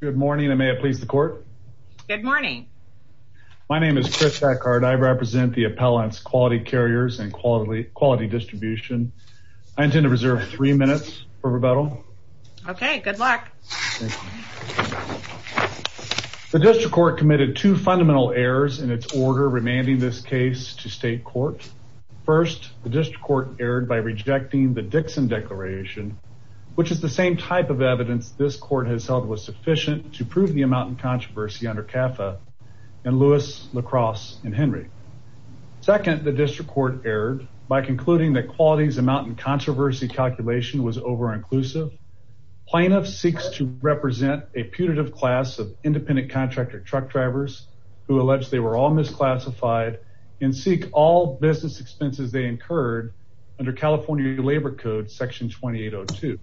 Good morning, and may it please the court. Good morning. My name is Chris Eckhart. I represent the appellants, quality carriers and quality distribution. I intend to reserve three minutes for rebuttal. Okay. Good luck. The district court committed two fundamental errors in its order, remanding this case to state court. First, the district court erred by rejecting the Dixon declaration, which is the same type of evidence this court has held was sufficient to prove the amount in controversy under CAFA and Lewis, LaCrosse and Henry. Second, the district court erred by concluding that qualities amount in controversy calculation was over-inclusive plaintiff seeks to represent a putative class of independent contractor truck drivers who alleged they were all misclassified and seek all business expenses they incurred under California labor code section 2802.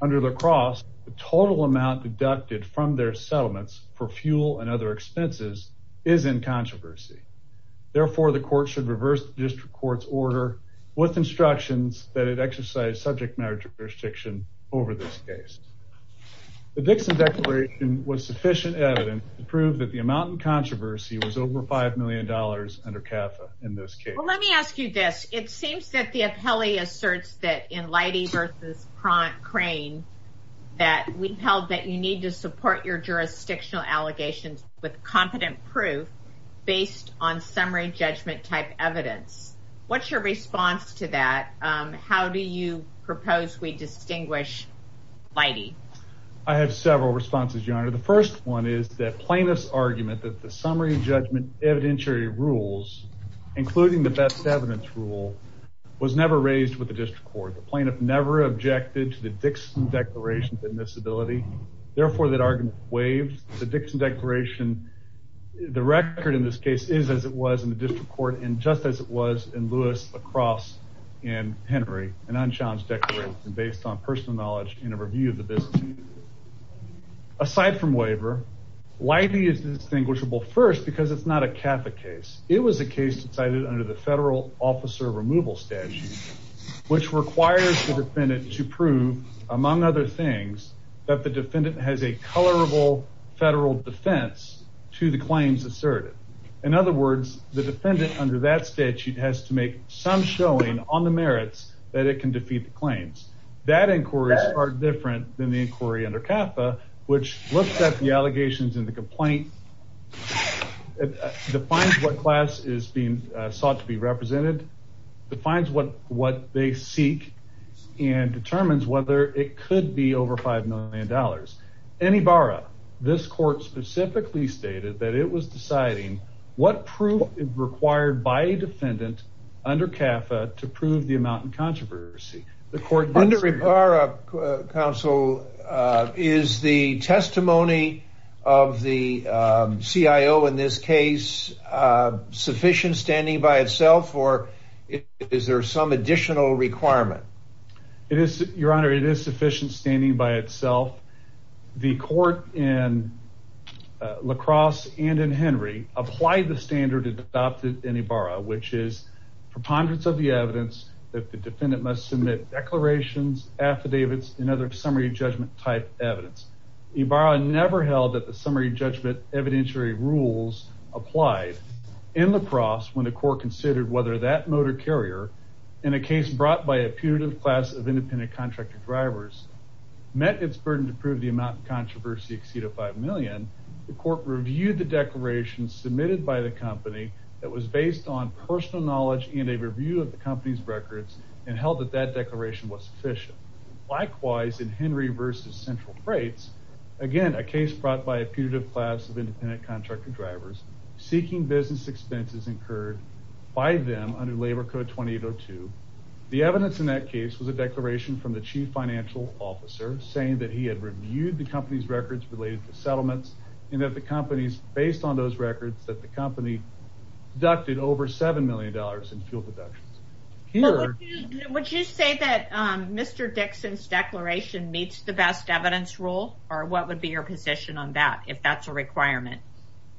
Under LaCrosse, the total amount deducted from their settlements for fuel and other expenses is in controversy. Therefore, the court should reverse the district court's order with instructions that it exercised subject matter jurisdiction over this case. The Dixon declaration was sufficient evidence to prove that the amount in controversy was over $5 million under CAFA in this case. Well, let me ask you this. It seems that the appellee asserts that in Leidy versus Crane, that we held that you need to support your jurisdictional allegations with competent proof based on summary judgment type evidence, what's your response to that? How do you propose we distinguish Leidy? I have several responses, your honor. The first one is that plaintiff's argument that the summary judgment evidentiary rules, including the best evidence rule was never raised with the district court. The plaintiff never objected to the Dixon declaration in this ability. Therefore that argument waived. The Dixon declaration, the record in this case is as it was in the district court and just as it was in Lewis, LaCrosse and Henry, an unchallenged declaration based on personal knowledge and a review of the business. Aside from waiver, Leidy is distinguishable first because it's not a CAFA case, it was a case decided under the federal officer removal statute, which requires the defendant to prove among other things, that the defendant has a colorable federal defense to the claims asserted. In other words, the defendant under that statute has to make some showing on the merits that it can defeat the claims that inquiries are different than the inquiry under CAFA, which looks at the allegations in the complaint, defines what class is being sought to be represented, defines what they seek and determines whether it could be over $5 million. In Ibarra, this court specifically stated that it was deciding what proof is required by defendant under CAFA to prove the amount in controversy. Under Ibarra, counsel, is the testimony of the CIO in this case sufficient standing by itself or is there some additional requirement? It is, your honor, it is sufficient standing by itself. The court in LaCrosse and in Henry applied the standard adopted in Ibarra, which is preponderance of the evidence that the defendant must submit declarations, affidavits, and other summary judgment type evidence. Ibarra never held that the summary judgment evidentiary rules applied in LaCrosse when the court considered whether that motor carrier in a case brought by a punitive class of independent contractor drivers met its burden to prove the amount of controversy exceed of 5 million, the personal knowledge and a review of the company's records and held that that declaration was sufficient. Likewise, in Henry versus Central Freights, again, a case brought by a punitive class of independent contractor drivers seeking business expenses incurred by them under labor code 2802. The evidence in that case was a declaration from the chief financial officer saying that he had reviewed the company's records related to settlements and that the companies based on those records that the company deducted over $7 million in fuel deductions. Would you say that, um, Mr. Dixon's declaration meets the best evidence rule or what would be your position on that if that's a requirement?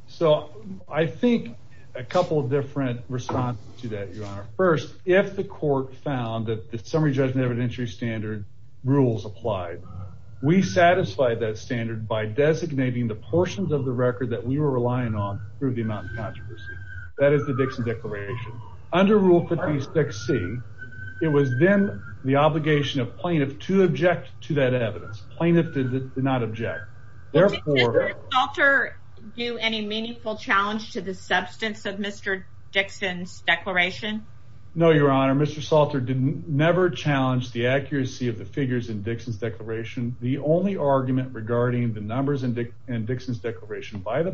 So I think a couple of different responses to that, Your Honor. First, if the court found that the summary judgment evidentiary standard rules applied, we satisfied that standard by designating the portions of the That is the Dixon declaration. Under rule 56C, it was then the obligation of plaintiff to object to that evidence. Plaintiff did not object. Therefore... Did Mr. Salter do any meaningful challenge to the substance of Mr. Dixon's declaration? No, Your Honor. Mr. Salter didn't never challenge the accuracy of the figures in Dixon's declaration. The only argument regarding the numbers in Dixon's declaration by the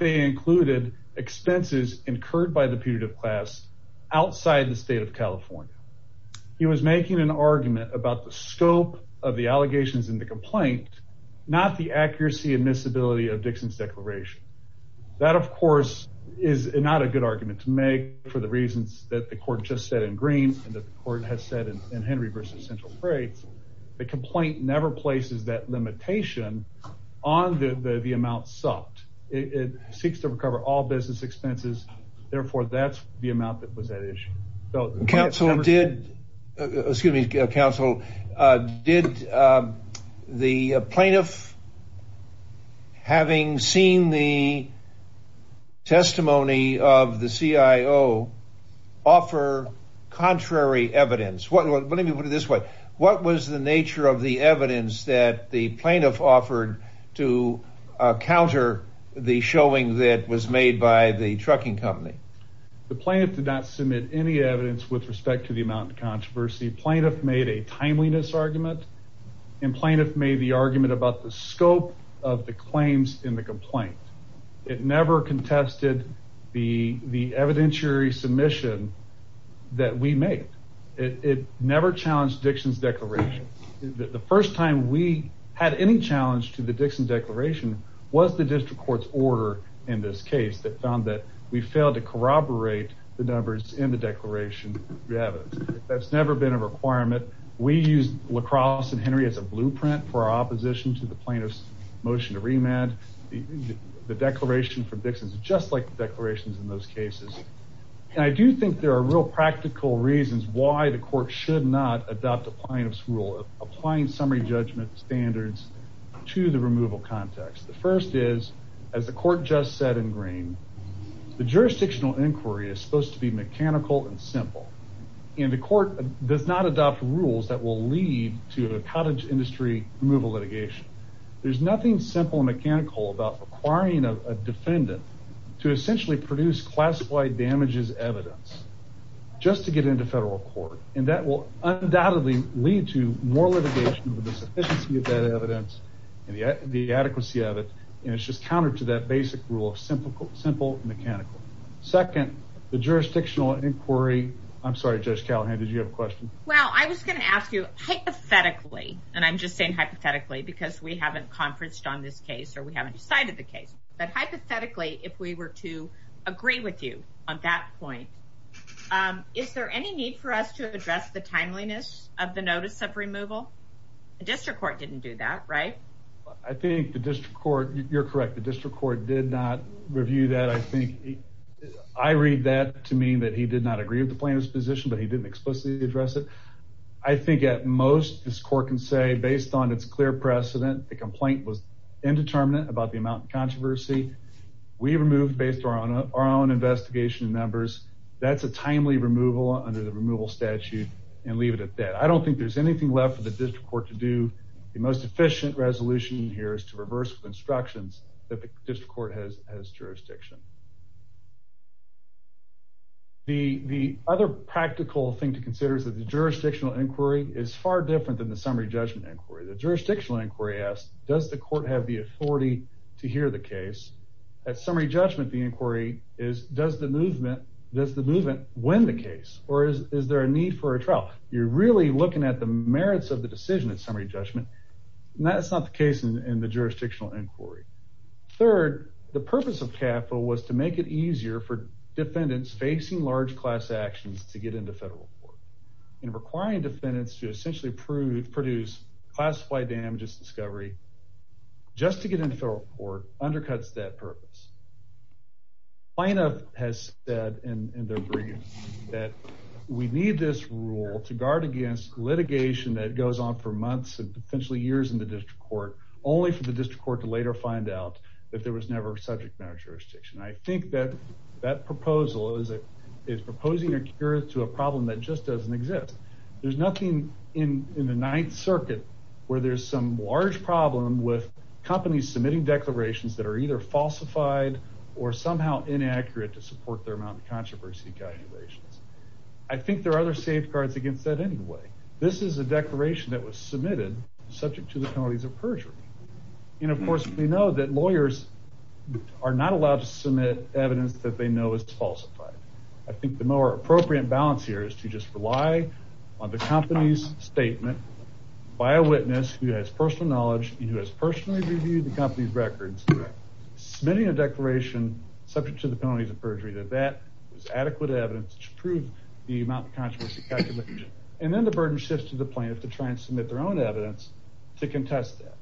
included expenses incurred by the putative class outside the state of California. He was making an argument about the scope of the allegations in the complaint, not the accuracy and miscibility of Dixon's declaration. That of course is not a good argument to make for the reasons that the court just said in green and that the court has said in Henry versus central freight, the complaint never places that limitation on the amount it seeks to recover all business expenses. Therefore, that's the amount that was at issue. Counsel did, excuse me, counsel, did the plaintiff having seen the testimony of the CIO offer contrary evidence? What, let me put it this way. What was the nature of the evidence that the plaintiff offered to counter the showing that was made by the trucking company? The plaintiff did not submit any evidence with respect to the amount of controversy. Plaintiff made a timeliness argument and plaintiff made the argument about the scope of the claims in the complaint. It never contested the evidentiary submission that we made. It never challenged Dixon's declaration that the first time we had any challenge to the Dixon declaration was the district court's order in this case that found that we failed to corroborate the numbers in the declaration that's never been a requirement. We use La Crosse and Henry as a blueprint for our opposition to the plaintiff's motion to remand the declaration from Dixon's just like the declarations in those cases. And I do think there are real practical reasons why the court should not adopt the plaintiff's rule of applying summary judgment standards to the removal context. The first is, as the court just said in green, the jurisdictional inquiry is supposed to be mechanical and simple. And the court does not adopt rules that will lead to a cottage industry removal litigation. There's nothing simple and mechanical about acquiring a defendant to essentially produce classified damages evidence just to get into federal court. And that will undoubtedly lead to more litigation with the sufficiency of that evidence and the adequacy of it. And it's just countered to that basic rule of simple, simple, mechanical. Second, the jurisdictional inquiry. I'm sorry, Judge Callahan, did you have a question? Well, I was going to ask you hypothetically, and I'm just saying hypothetically, because we haven't conferenced on this case or we haven't decided the case. But hypothetically, if we were to agree with you on that point, is there any need for us to address the timeliness of the notice of removal? The district court didn't do that, right? I think the district court, you're correct. The district court did not review that. I think I read that to mean that he did not agree with the plaintiff's position, but he didn't explicitly address it. I think at most this court can say, based on its clear precedent, the we removed based on our own investigation members. That's a timely removal under the removal statute and leave it at that. I don't think there's anything left for the district court to do. The most efficient resolution here is to reverse the instructions that the district court has jurisdiction. The other practical thing to consider is that the jurisdictional inquiry is far different than the summary judgment inquiry. The jurisdictional inquiry asks, does the court have the authority to hear the case at summary judgment? The inquiry is, does the movement, does the movement win the case or is there a need for a trial? You're really looking at the merits of the decision at summary judgment. And that's not the case in the jurisdictional inquiry. Third, the purpose of capital was to make it easier for defendants facing large class actions to get into federal court and requiring defendants to essentially prove, produce classified damages discovery just to get into federal court undercuts that purpose has said in their brief that we need this rule to guard against litigation that goes on for months and potentially years in the district court, only for the district court to later find out that there was never subject matter jurisdiction. I think that that proposal is a, is proposing a cure to a problem that just doesn't exist. There's nothing in the ninth circuit where there's some large problem with companies submitting declarations that are either falsified or somehow inaccurate to support their amount of controversy calculations. I think there are other safeguards against that. Anyway, this is a declaration that was submitted subject to the penalties of perjury. And of course, we know that lawyers are not allowed to submit evidence that they know is falsified. I think the more appropriate balance here is to just rely on the company's by a witness who has personal knowledge and who has personally reviewed the company's records, submitting a declaration subject to the penalties of perjury, that that was adequate evidence to prove the amount of controversy and then the burden shifts to the plaintiff to try and submit their own evidence to contest that.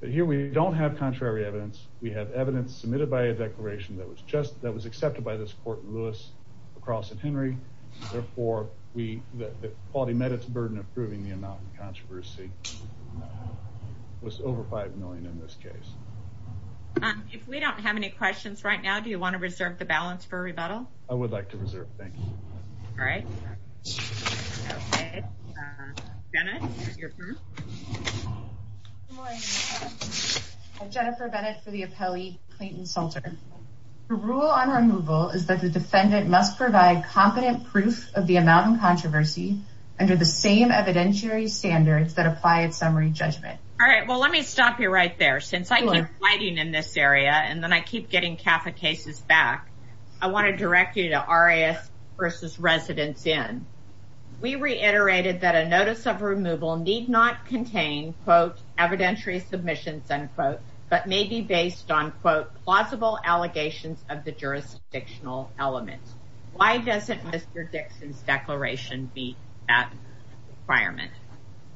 But here we don't have contrary evidence. We have evidence submitted by a declaration that was just, that was accepted by this court in Lewis across at Henry. Therefore, we, the quality met its burden of proving the amount of controversy was over 5 million in this case. If we don't have any questions right now, do you want to reserve the balance for rebuttal? I would like to reserve. Thank you. All right. Jennifer Bennett for the appellee, Clayton Salter. The rule on removal is that the defendant must provide competent proof of the amount of controversy under the same evidentiary standards that apply at summary judgment. All right. Well, let me stop you right there. Since I keep fighting in this area and then I keep getting CAFA cases back, I want to direct you to RAF versus residents in. We reiterated that a notice of removal need not contain quote evidentiary submissions unquote, but may be based on quote plausible allegations of the jurisdictional elements. Why does it Mr. Dixon's declaration be that requirement?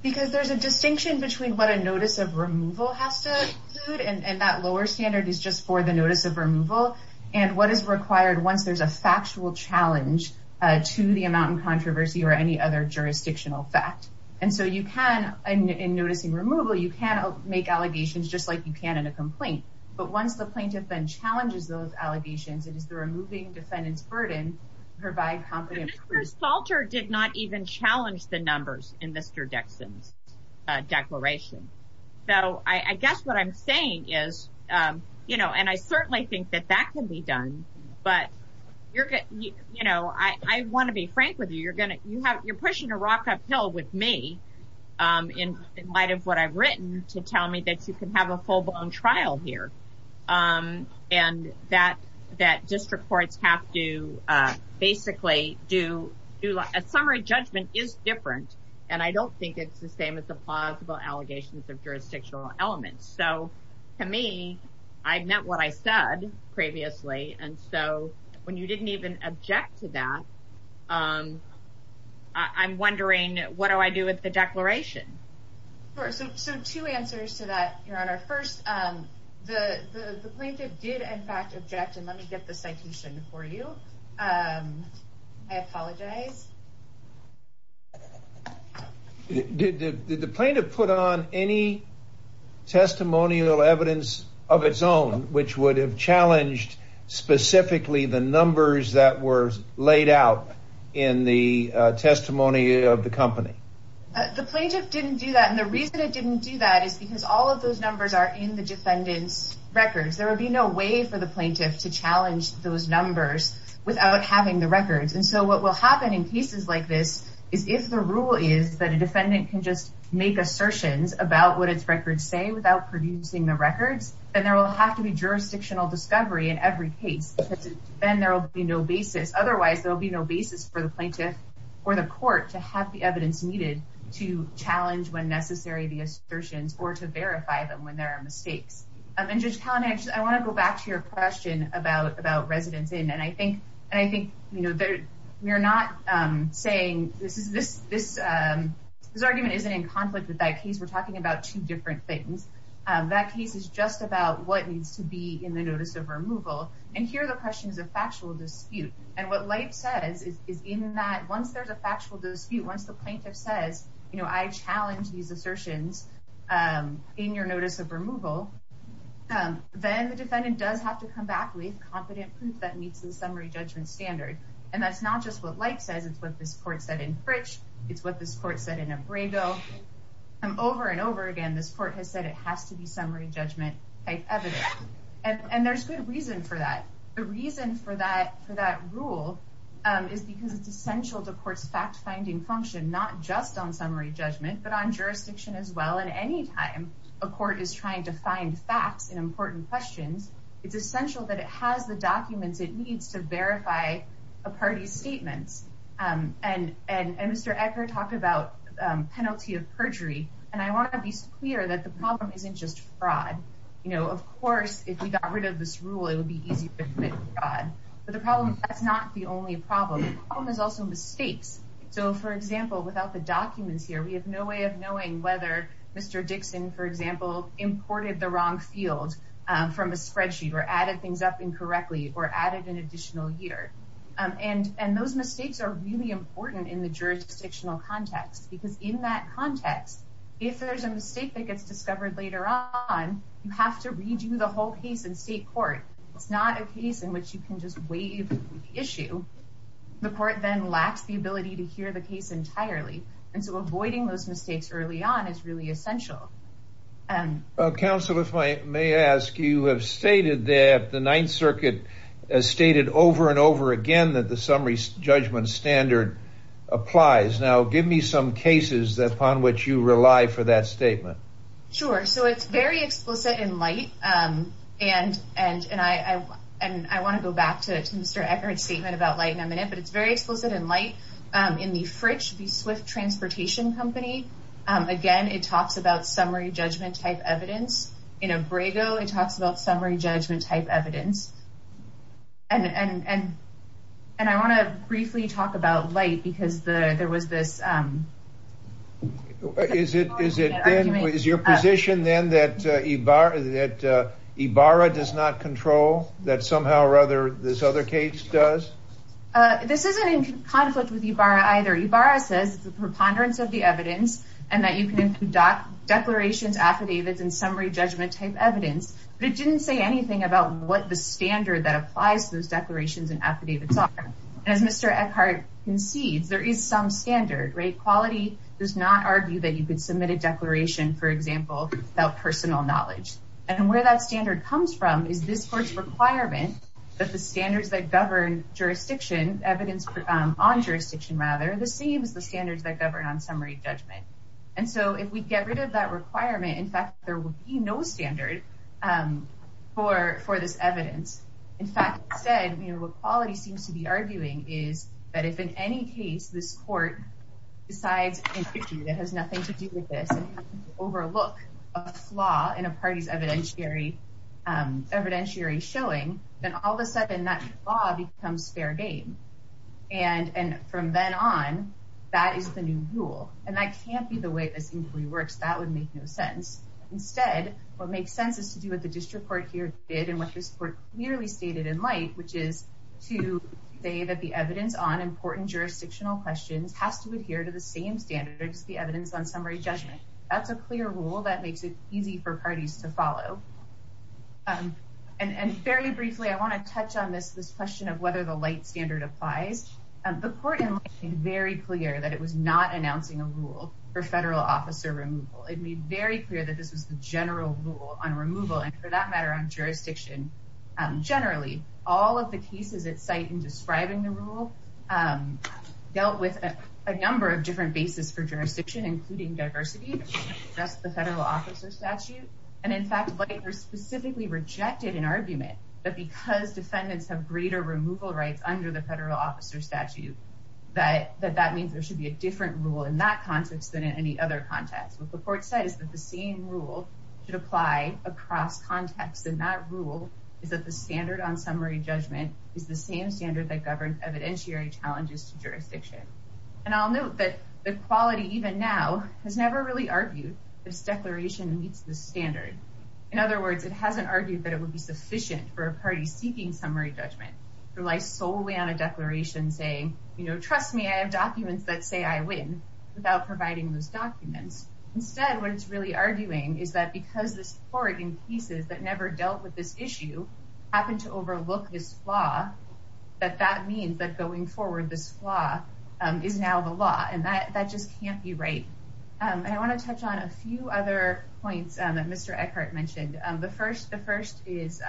Because there's a distinction between what a notice of removal has to include and that lower standard is just for the notice of removal and what is required once there's a factual challenge to the amount of controversy or any other jurisdictional fact. And so you can in noticing removal, you can make allegations just like you can in a complaint. But once the plaintiff then challenges those allegations, it is the removing defendant's burden provide competent. Salter did not even challenge the numbers in Mr. Dixon's declaration. So I guess what I'm saying is, you know, and I certainly think that that can be done, but you're you know, I want to be frank with you. You're going to you have you're pushing a rock uphill with me in light of what I've written to tell me that you can have a full blown trial here and that that district courts have to basically do a summary judgment is different. And I don't think it's the same as the plausible allegations of jurisdictional elements. So to me, I've met what I said previously. And so when you didn't even object to that, I'm wondering, what do I do with the declaration? So two answers to that, Your Honor. First, the plaintiff did, in fact, object. And let me get the citation for you. I apologize. Did the plaintiff put on any testimonial evidence of its own which would have specifically the numbers that were laid out in the testimony of the company? The plaintiff didn't do that. And the reason it didn't do that is because all of those numbers are in the defendant's records. There would be no way for the plaintiff to challenge those numbers without having the records. And so what will happen in cases like this is if the rule is that a defendant can just make assertions about what its records say without producing the case, then there will be no basis. Otherwise, there'll be no basis for the plaintiff or the court to have the evidence needed to challenge when necessary the assertions or to verify them when there are mistakes. And Judge Kalanick, I want to go back to your question about residents in. And I think we are not saying this argument isn't in conflict with that case. We're talking about two different things. That case is just about what needs to be in the notice of removal. And here the question is a factual dispute. And what Leif says is in that once there's a factual dispute, once the plaintiff says, you know, I challenge these assertions in your notice of removal, then the defendant does have to come back with competent proof that meets the summary judgment standard. And that's not just what Leif says. It's what this court said in Fritch. It's what this court said in Ambrego. And over and over again, this court has said it has to be summary judgment type evidence. And there's good reason for that. The reason for that rule is because it's essential to court's fact-finding function, not just on summary judgment, but on jurisdiction as well. And any time a court is trying to find facts in important questions, it's essential that And Mr. Ecker talked about penalty of perjury. And I want to be clear that the problem isn't just fraud. You know, of course, if we got rid of this rule, it would be easier to commit fraud. But the problem, that's not the only problem. The problem is also mistakes. So, for example, without the documents here, we have no way of knowing whether Mr. Dixon, for example, imported the wrong field from a spreadsheet or added things up incorrectly or added an additional year. And those mistakes are really important in the jurisdictional context. Because in that context, if there's a mistake that gets discovered later on, you have to redo the whole case in state court. It's not a case in which you can just waive the issue. The court then lacks the ability to hear the case entirely. And so avoiding those mistakes early on is really essential. And counsel, if I may ask, you have stated that the Ninth Circuit has stated over and over again that the summary judgment standard applies. Now, give me some cases upon which you rely for that statement. Sure. So it's very explicit in light. And and and I and I want to go back to Mr. Eckert's statement about light in a minute. But it's very explicit in light in the Fritch, the Swift Transportation Company. Again, it talks about summary judgment type evidence. In Abrego, it talks about summary judgment type evidence. And and and and I want to briefly talk about light because there was this. Is it is it is your position then that Ibarra that Ibarra does not control that somehow or other this other case does? This isn't in conflict with Ibarra either. Ibarra says the preponderance of the evidence and that you can dock declarations, affidavits and summary judgment type evidence. But it didn't say anything about what the standard that applies to those declarations and affidavits are. As Mr. Eckert concedes, there is some standard rate quality does not argue that you could submit a declaration, for example, about personal knowledge. And where that standard comes from is this court's requirement that the standards that jurisdiction evidence on jurisdiction, rather the same as the standards that govern on summary judgment. And so if we get rid of that requirement, in fact, there will be no standard for for this evidence. In fact, said equality seems to be arguing is that if in any case this court decides that has nothing to do with this, overlook a flaw in a party's evidentiary evidentiary showing, then all of a sudden that becomes fair game. And from then on, that is the new rule. And that can't be the way this inquiry works. That would make no sense. Instead, what makes sense is to do what the district court here did and what this court clearly stated in light, which is to say that the evidence on important jurisdictional questions has to adhere to the same standards, the evidence on summary judgment. That's a clear rule that makes it easy for parties to follow. And very briefly, I want to touch on this, this question of whether the light standard applies. The court in very clear that it was not announcing a rule for federal officer removal. It made very clear that this was the general rule on removal and for that matter, on jurisdiction. Generally, all of the cases at site in describing the rule dealt with a number of different bases for jurisdiction, including diversity. The federal officer statute, and in fact, specifically rejected an argument that because defendants have greater removal rights under the federal officer statute, that that that means there should be a different rule in that context than in any other context. What the court said is that the same rule should apply across contexts. And that rule is that the standard on summary judgment is the same standard that governs evidentiary challenges to jurisdiction. And I'll note that the quality even now has never really argued this declaration meets the standard. In other words, it hasn't argued that it would be sufficient for a party seeking summary judgment to rely solely on a declaration saying, you know, trust me, I have documents that say I win without providing those documents. Instead, what it's really arguing is that because this court in cases that never dealt with this issue happened to overlook this flaw, that that means that going forward, this law is now the law. And that that just can't be right. And I want to touch on a few other points that Mr. Eckhart mentioned. The first the first is.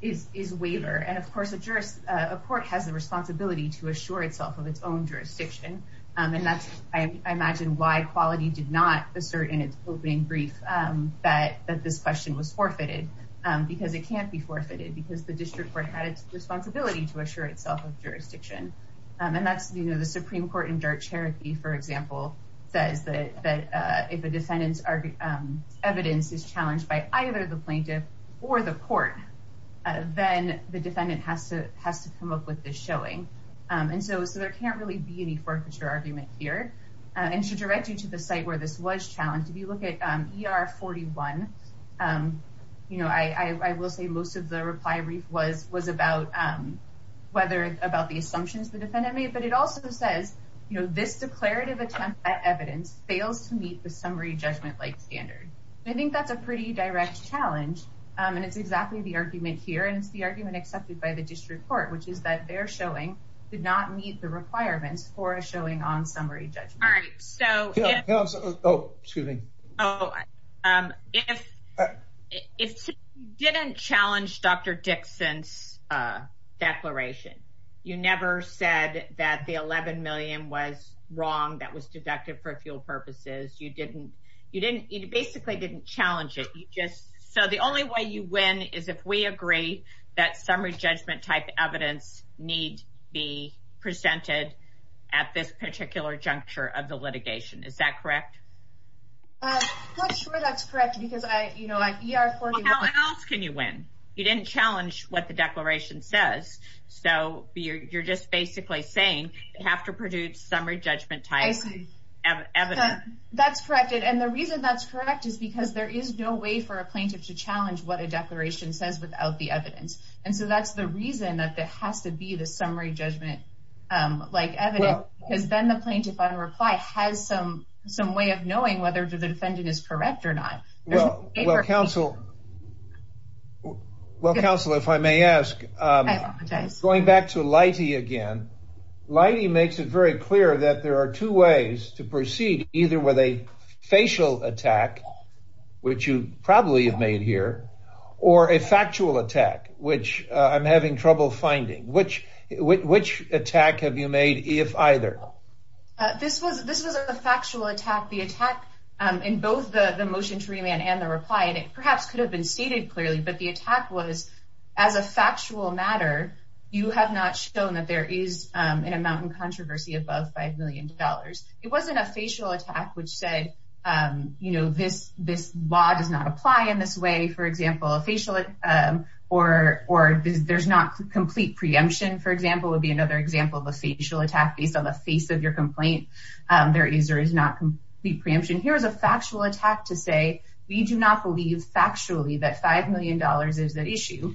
Is is waiver, and of course, a jurist, a court has the responsibility to assure itself of its own jurisdiction, and that's, I imagine, why quality did not assert in its opening brief that that this question was forfeited because it can't be forfeited because the question and that's, you know, the Supreme Court in Darcher, for example, says that if a defendant's evidence is challenged by either the plaintiff or the court, then the defendant has to has to come up with this showing. And so so there can't really be any forfeiture argument here and should direct you to the site where this was challenged. If you look at ER 41, you know, I will say most of the reply brief was was about whether about the assumptions the defendant made. But it also says, you know, this declarative attempt at evidence fails to meet the summary judgment like standard. I think that's a pretty direct challenge. And it's exactly the argument here. And it's the argument accepted by the district court, which is that they're showing did not meet the requirements for a showing on summary judgment. All right. So, oh, excuse me. So if it didn't challenge Dr. Dixon's declaration, you never said that the 11 million was wrong. That was deducted for a few purposes. You didn't you didn't you basically didn't challenge it. You just so the only way you win is if we agree that summary judgment type evidence need be presented at this particular juncture of the litigation. Is that correct? I'm not sure that's correct, because I, you know, at ER 41. How else can you win? You didn't challenge what the declaration says. So you're just basically saying you have to produce summary judgment type evidence. That's correct. And the reason that's correct is because there is no way for a plaintiff to challenge what a declaration says without the evidence. And so that's the reason that there has to be the summary judgment like evidence, because then the plaintiff on reply has some some way of knowing whether the defendant is correct or not. Well, well, counsel. Well, counsel, if I may ask, going back to Leite again, Leite makes it very clear that there are two ways to proceed, either with a facial attack, which you probably have made here, or a factual attack, which I'm having trouble finding, which which attack have you made, if either? This was this was a factual attack, the attack in both the motion to remand and the reply, and it perhaps could have been stated clearly. But the attack was as a factual matter, you have not shown that there is an amount in controversy above five million dollars. It wasn't a facial attack, which said, you know, this this law does not apply in this way, for example, a facial or or there's not complete preemption, for example, would be another example of a facial attack based on the face of your complaint. There is or is not complete preemption. Here is a factual attack to say we do not believe factually that five million dollars is at issue.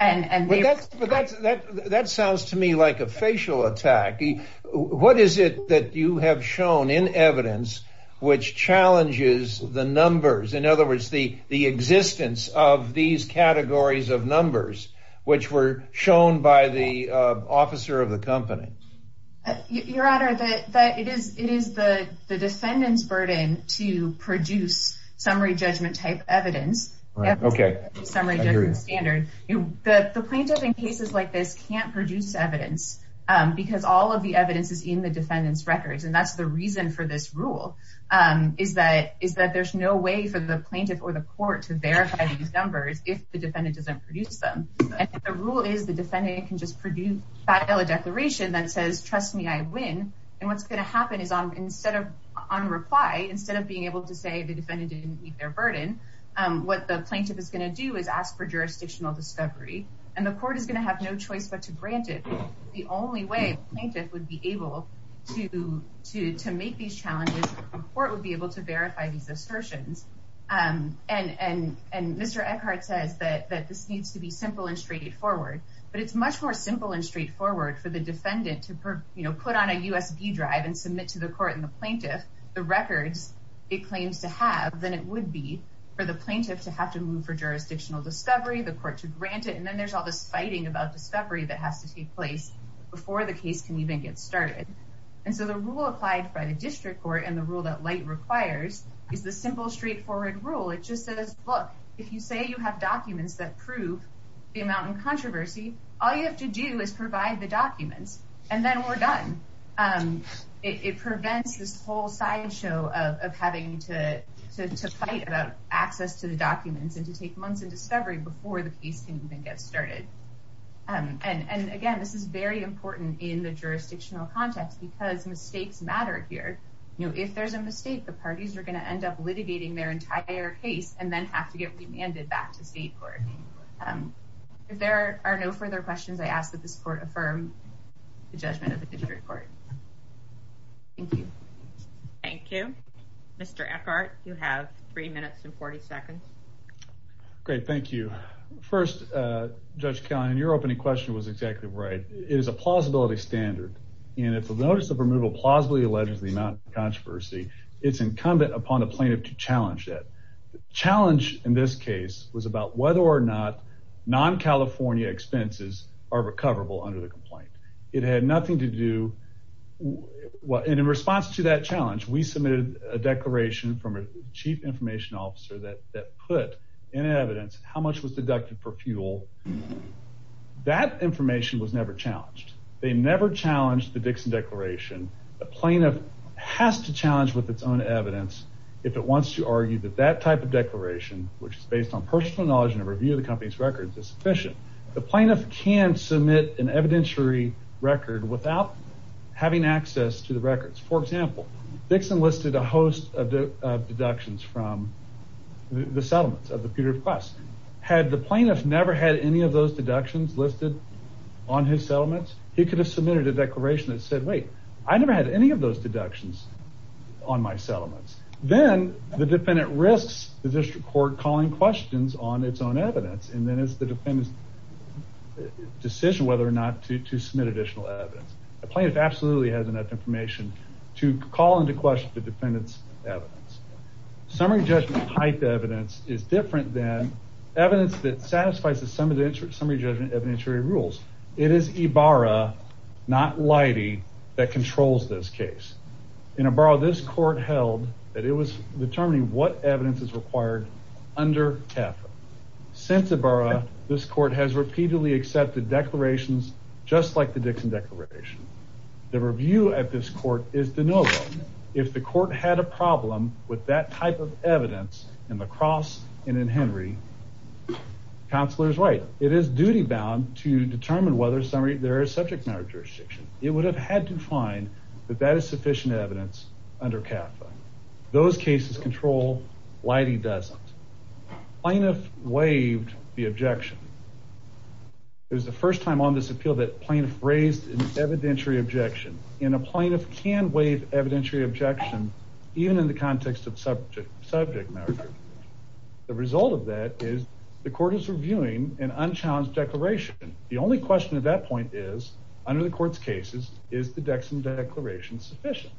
And that's that that sounds to me like a facial attack. What is it that you have shown in evidence which challenges the numbers? In other words, the the existence of these categories of numbers which were shown by the officer of the company, your honor, that it is it is the the defendant's burden to produce summary judgment type evidence. OK, summary standard. The plaintiff in cases like this can't produce evidence because all of the evidence is in the defendant's records. And that's the reason for this rule is that is that there's no way for the plaintiff or the court to verify these numbers if the defendant doesn't produce them. The rule is the defendant can just produce a declaration that says, trust me, I win. And what's going to happen is I'm instead of on reply, instead of being able to say the defendant didn't meet their burden, what the plaintiff is going to do is ask for jurisdictional discovery and the court is going to have no choice but to grant it. The only way plaintiff would be able to to to make these challenges or it would be able to be simple and straightforward, but it's much more simple and straightforward for the defendant to put on a USB drive and submit to the court and the plaintiff the records it claims to have than it would be for the plaintiff to have to move for jurisdictional discovery, the court to grant it. And then there's all this fighting about discovery that has to take place before the case can even get started. And so the rule applied by the district court and the rule that light requires is the simple, straightforward rule. It just says, look, if you say you have documents that prove the amount of controversy, all you have to do is provide the documents and then we're done. It prevents this whole sideshow of having to fight about access to the documents and to take months of discovery before the case can even get started. And again, this is very important in the jurisdictional context because mistakes matter here. If there's a mistake, the parties are going to end up litigating their entire case and then have to get remanded back to state court. If there are no further questions, I ask that this court affirm the judgment of the district court. Thank you. Thank you, Mr. Eckhart, you have three minutes and 40 seconds. Great, thank you. First, Judge Callahan, your opening question was exactly right. It is a plausibility standard. And if the notice of removal plausibly alleges the amount of controversy, it's incumbent upon a plaintiff to challenge it. The challenge in this case was about whether or not non-California expenses are recoverable under the complaint. It had nothing to do. And in response to that challenge, we submitted a declaration from a chief information officer that put in evidence how much was deducted for fuel. That information was never challenged. They never challenged the Dixon Declaration. A plaintiff has to challenge with its own evidence if it wants to argue that that type of declaration, which is based on personal knowledge and a review of the company's records, is sufficient. The plaintiff can submit an evidentiary record without having access to the records. For example, Dixon listed a host of deductions from the settlements of the Peterburg Quest. Had the plaintiff never had any of those deductions listed on his settlements, he could have submitted a declaration that said, wait, I never had any of those deductions on my settlements. Then the defendant risks the district court calling questions on its own evidence. And then it's the defendant's decision whether or not to submit additional evidence. The plaintiff absolutely has enough information to call into question the defendant's evidence. Summary judgment type evidence is different than evidence that satisfies the summary judgment evidentiary rules. It is Ibarra, not Leidy, that controls this case. In Ibarra, this court held that it was determining what evidence is required under CAFA. Since Ibarra, this court has repeatedly accepted declarations just like the Dixon declaration. The review at this court is to know if the court had a problem with that type of evidence in La Crosse and in Henry. Counselor is right. It is duty bound to determine whether there is subject matter jurisdiction. It would have had to find that that is sufficient evidence under CAFA. Those cases control, Leidy doesn't. Plaintiff waived the objection. It was the first time on this appeal that plaintiff raised an evidentiary objection and a plaintiff can waive evidentiary objection, even in the context of subject matter. The result of that is the court is reviewing an unchallenged declaration. The only question at that point is under the court's cases, is the Dixon declaration sufficient?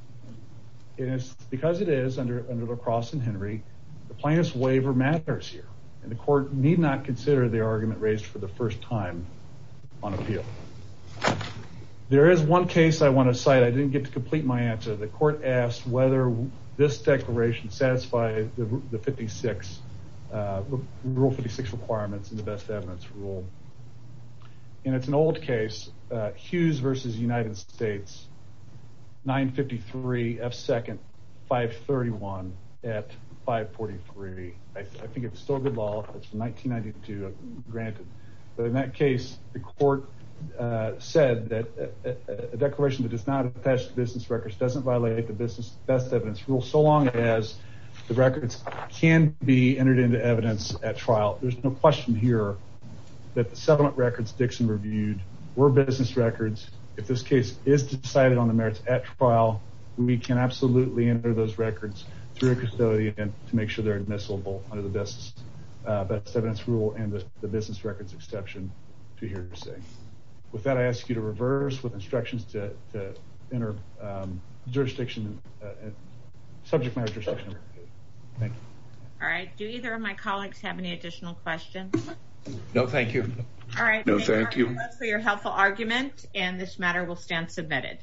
It is because it is under La Crosse and Henry, the plaintiff's waiver matters here and the court need not consider the argument raised for the first time on appeal. There is one case I want to cite. I didn't get to complete my answer. The court asked whether this declaration satisfied the 56, rule 56 requirements and the best evidence rule. And it's an old case, Hughes versus United States, 953 F second, 531 at 543. I think it's still good law. It's 1992 granted. But in that case, the court said that a declaration that does not attach to business records, doesn't violate the business best evidence rule. So long as the records can be entered into evidence at trial, there's no question here that the settlement records Dixon reviewed were business records. If this case is decided on the merits at trial, we can absolutely enter those records through a custodian to make sure they're admissible under the best evidence rule and the business records exception to hear your say. With that, I ask you to reverse with instructions to enter jurisdiction, subject matter jurisdiction. All right. Do either of my colleagues have any additional questions? No, thank you. All right. No, thank you for your helpful argument and this matter will stand submitted.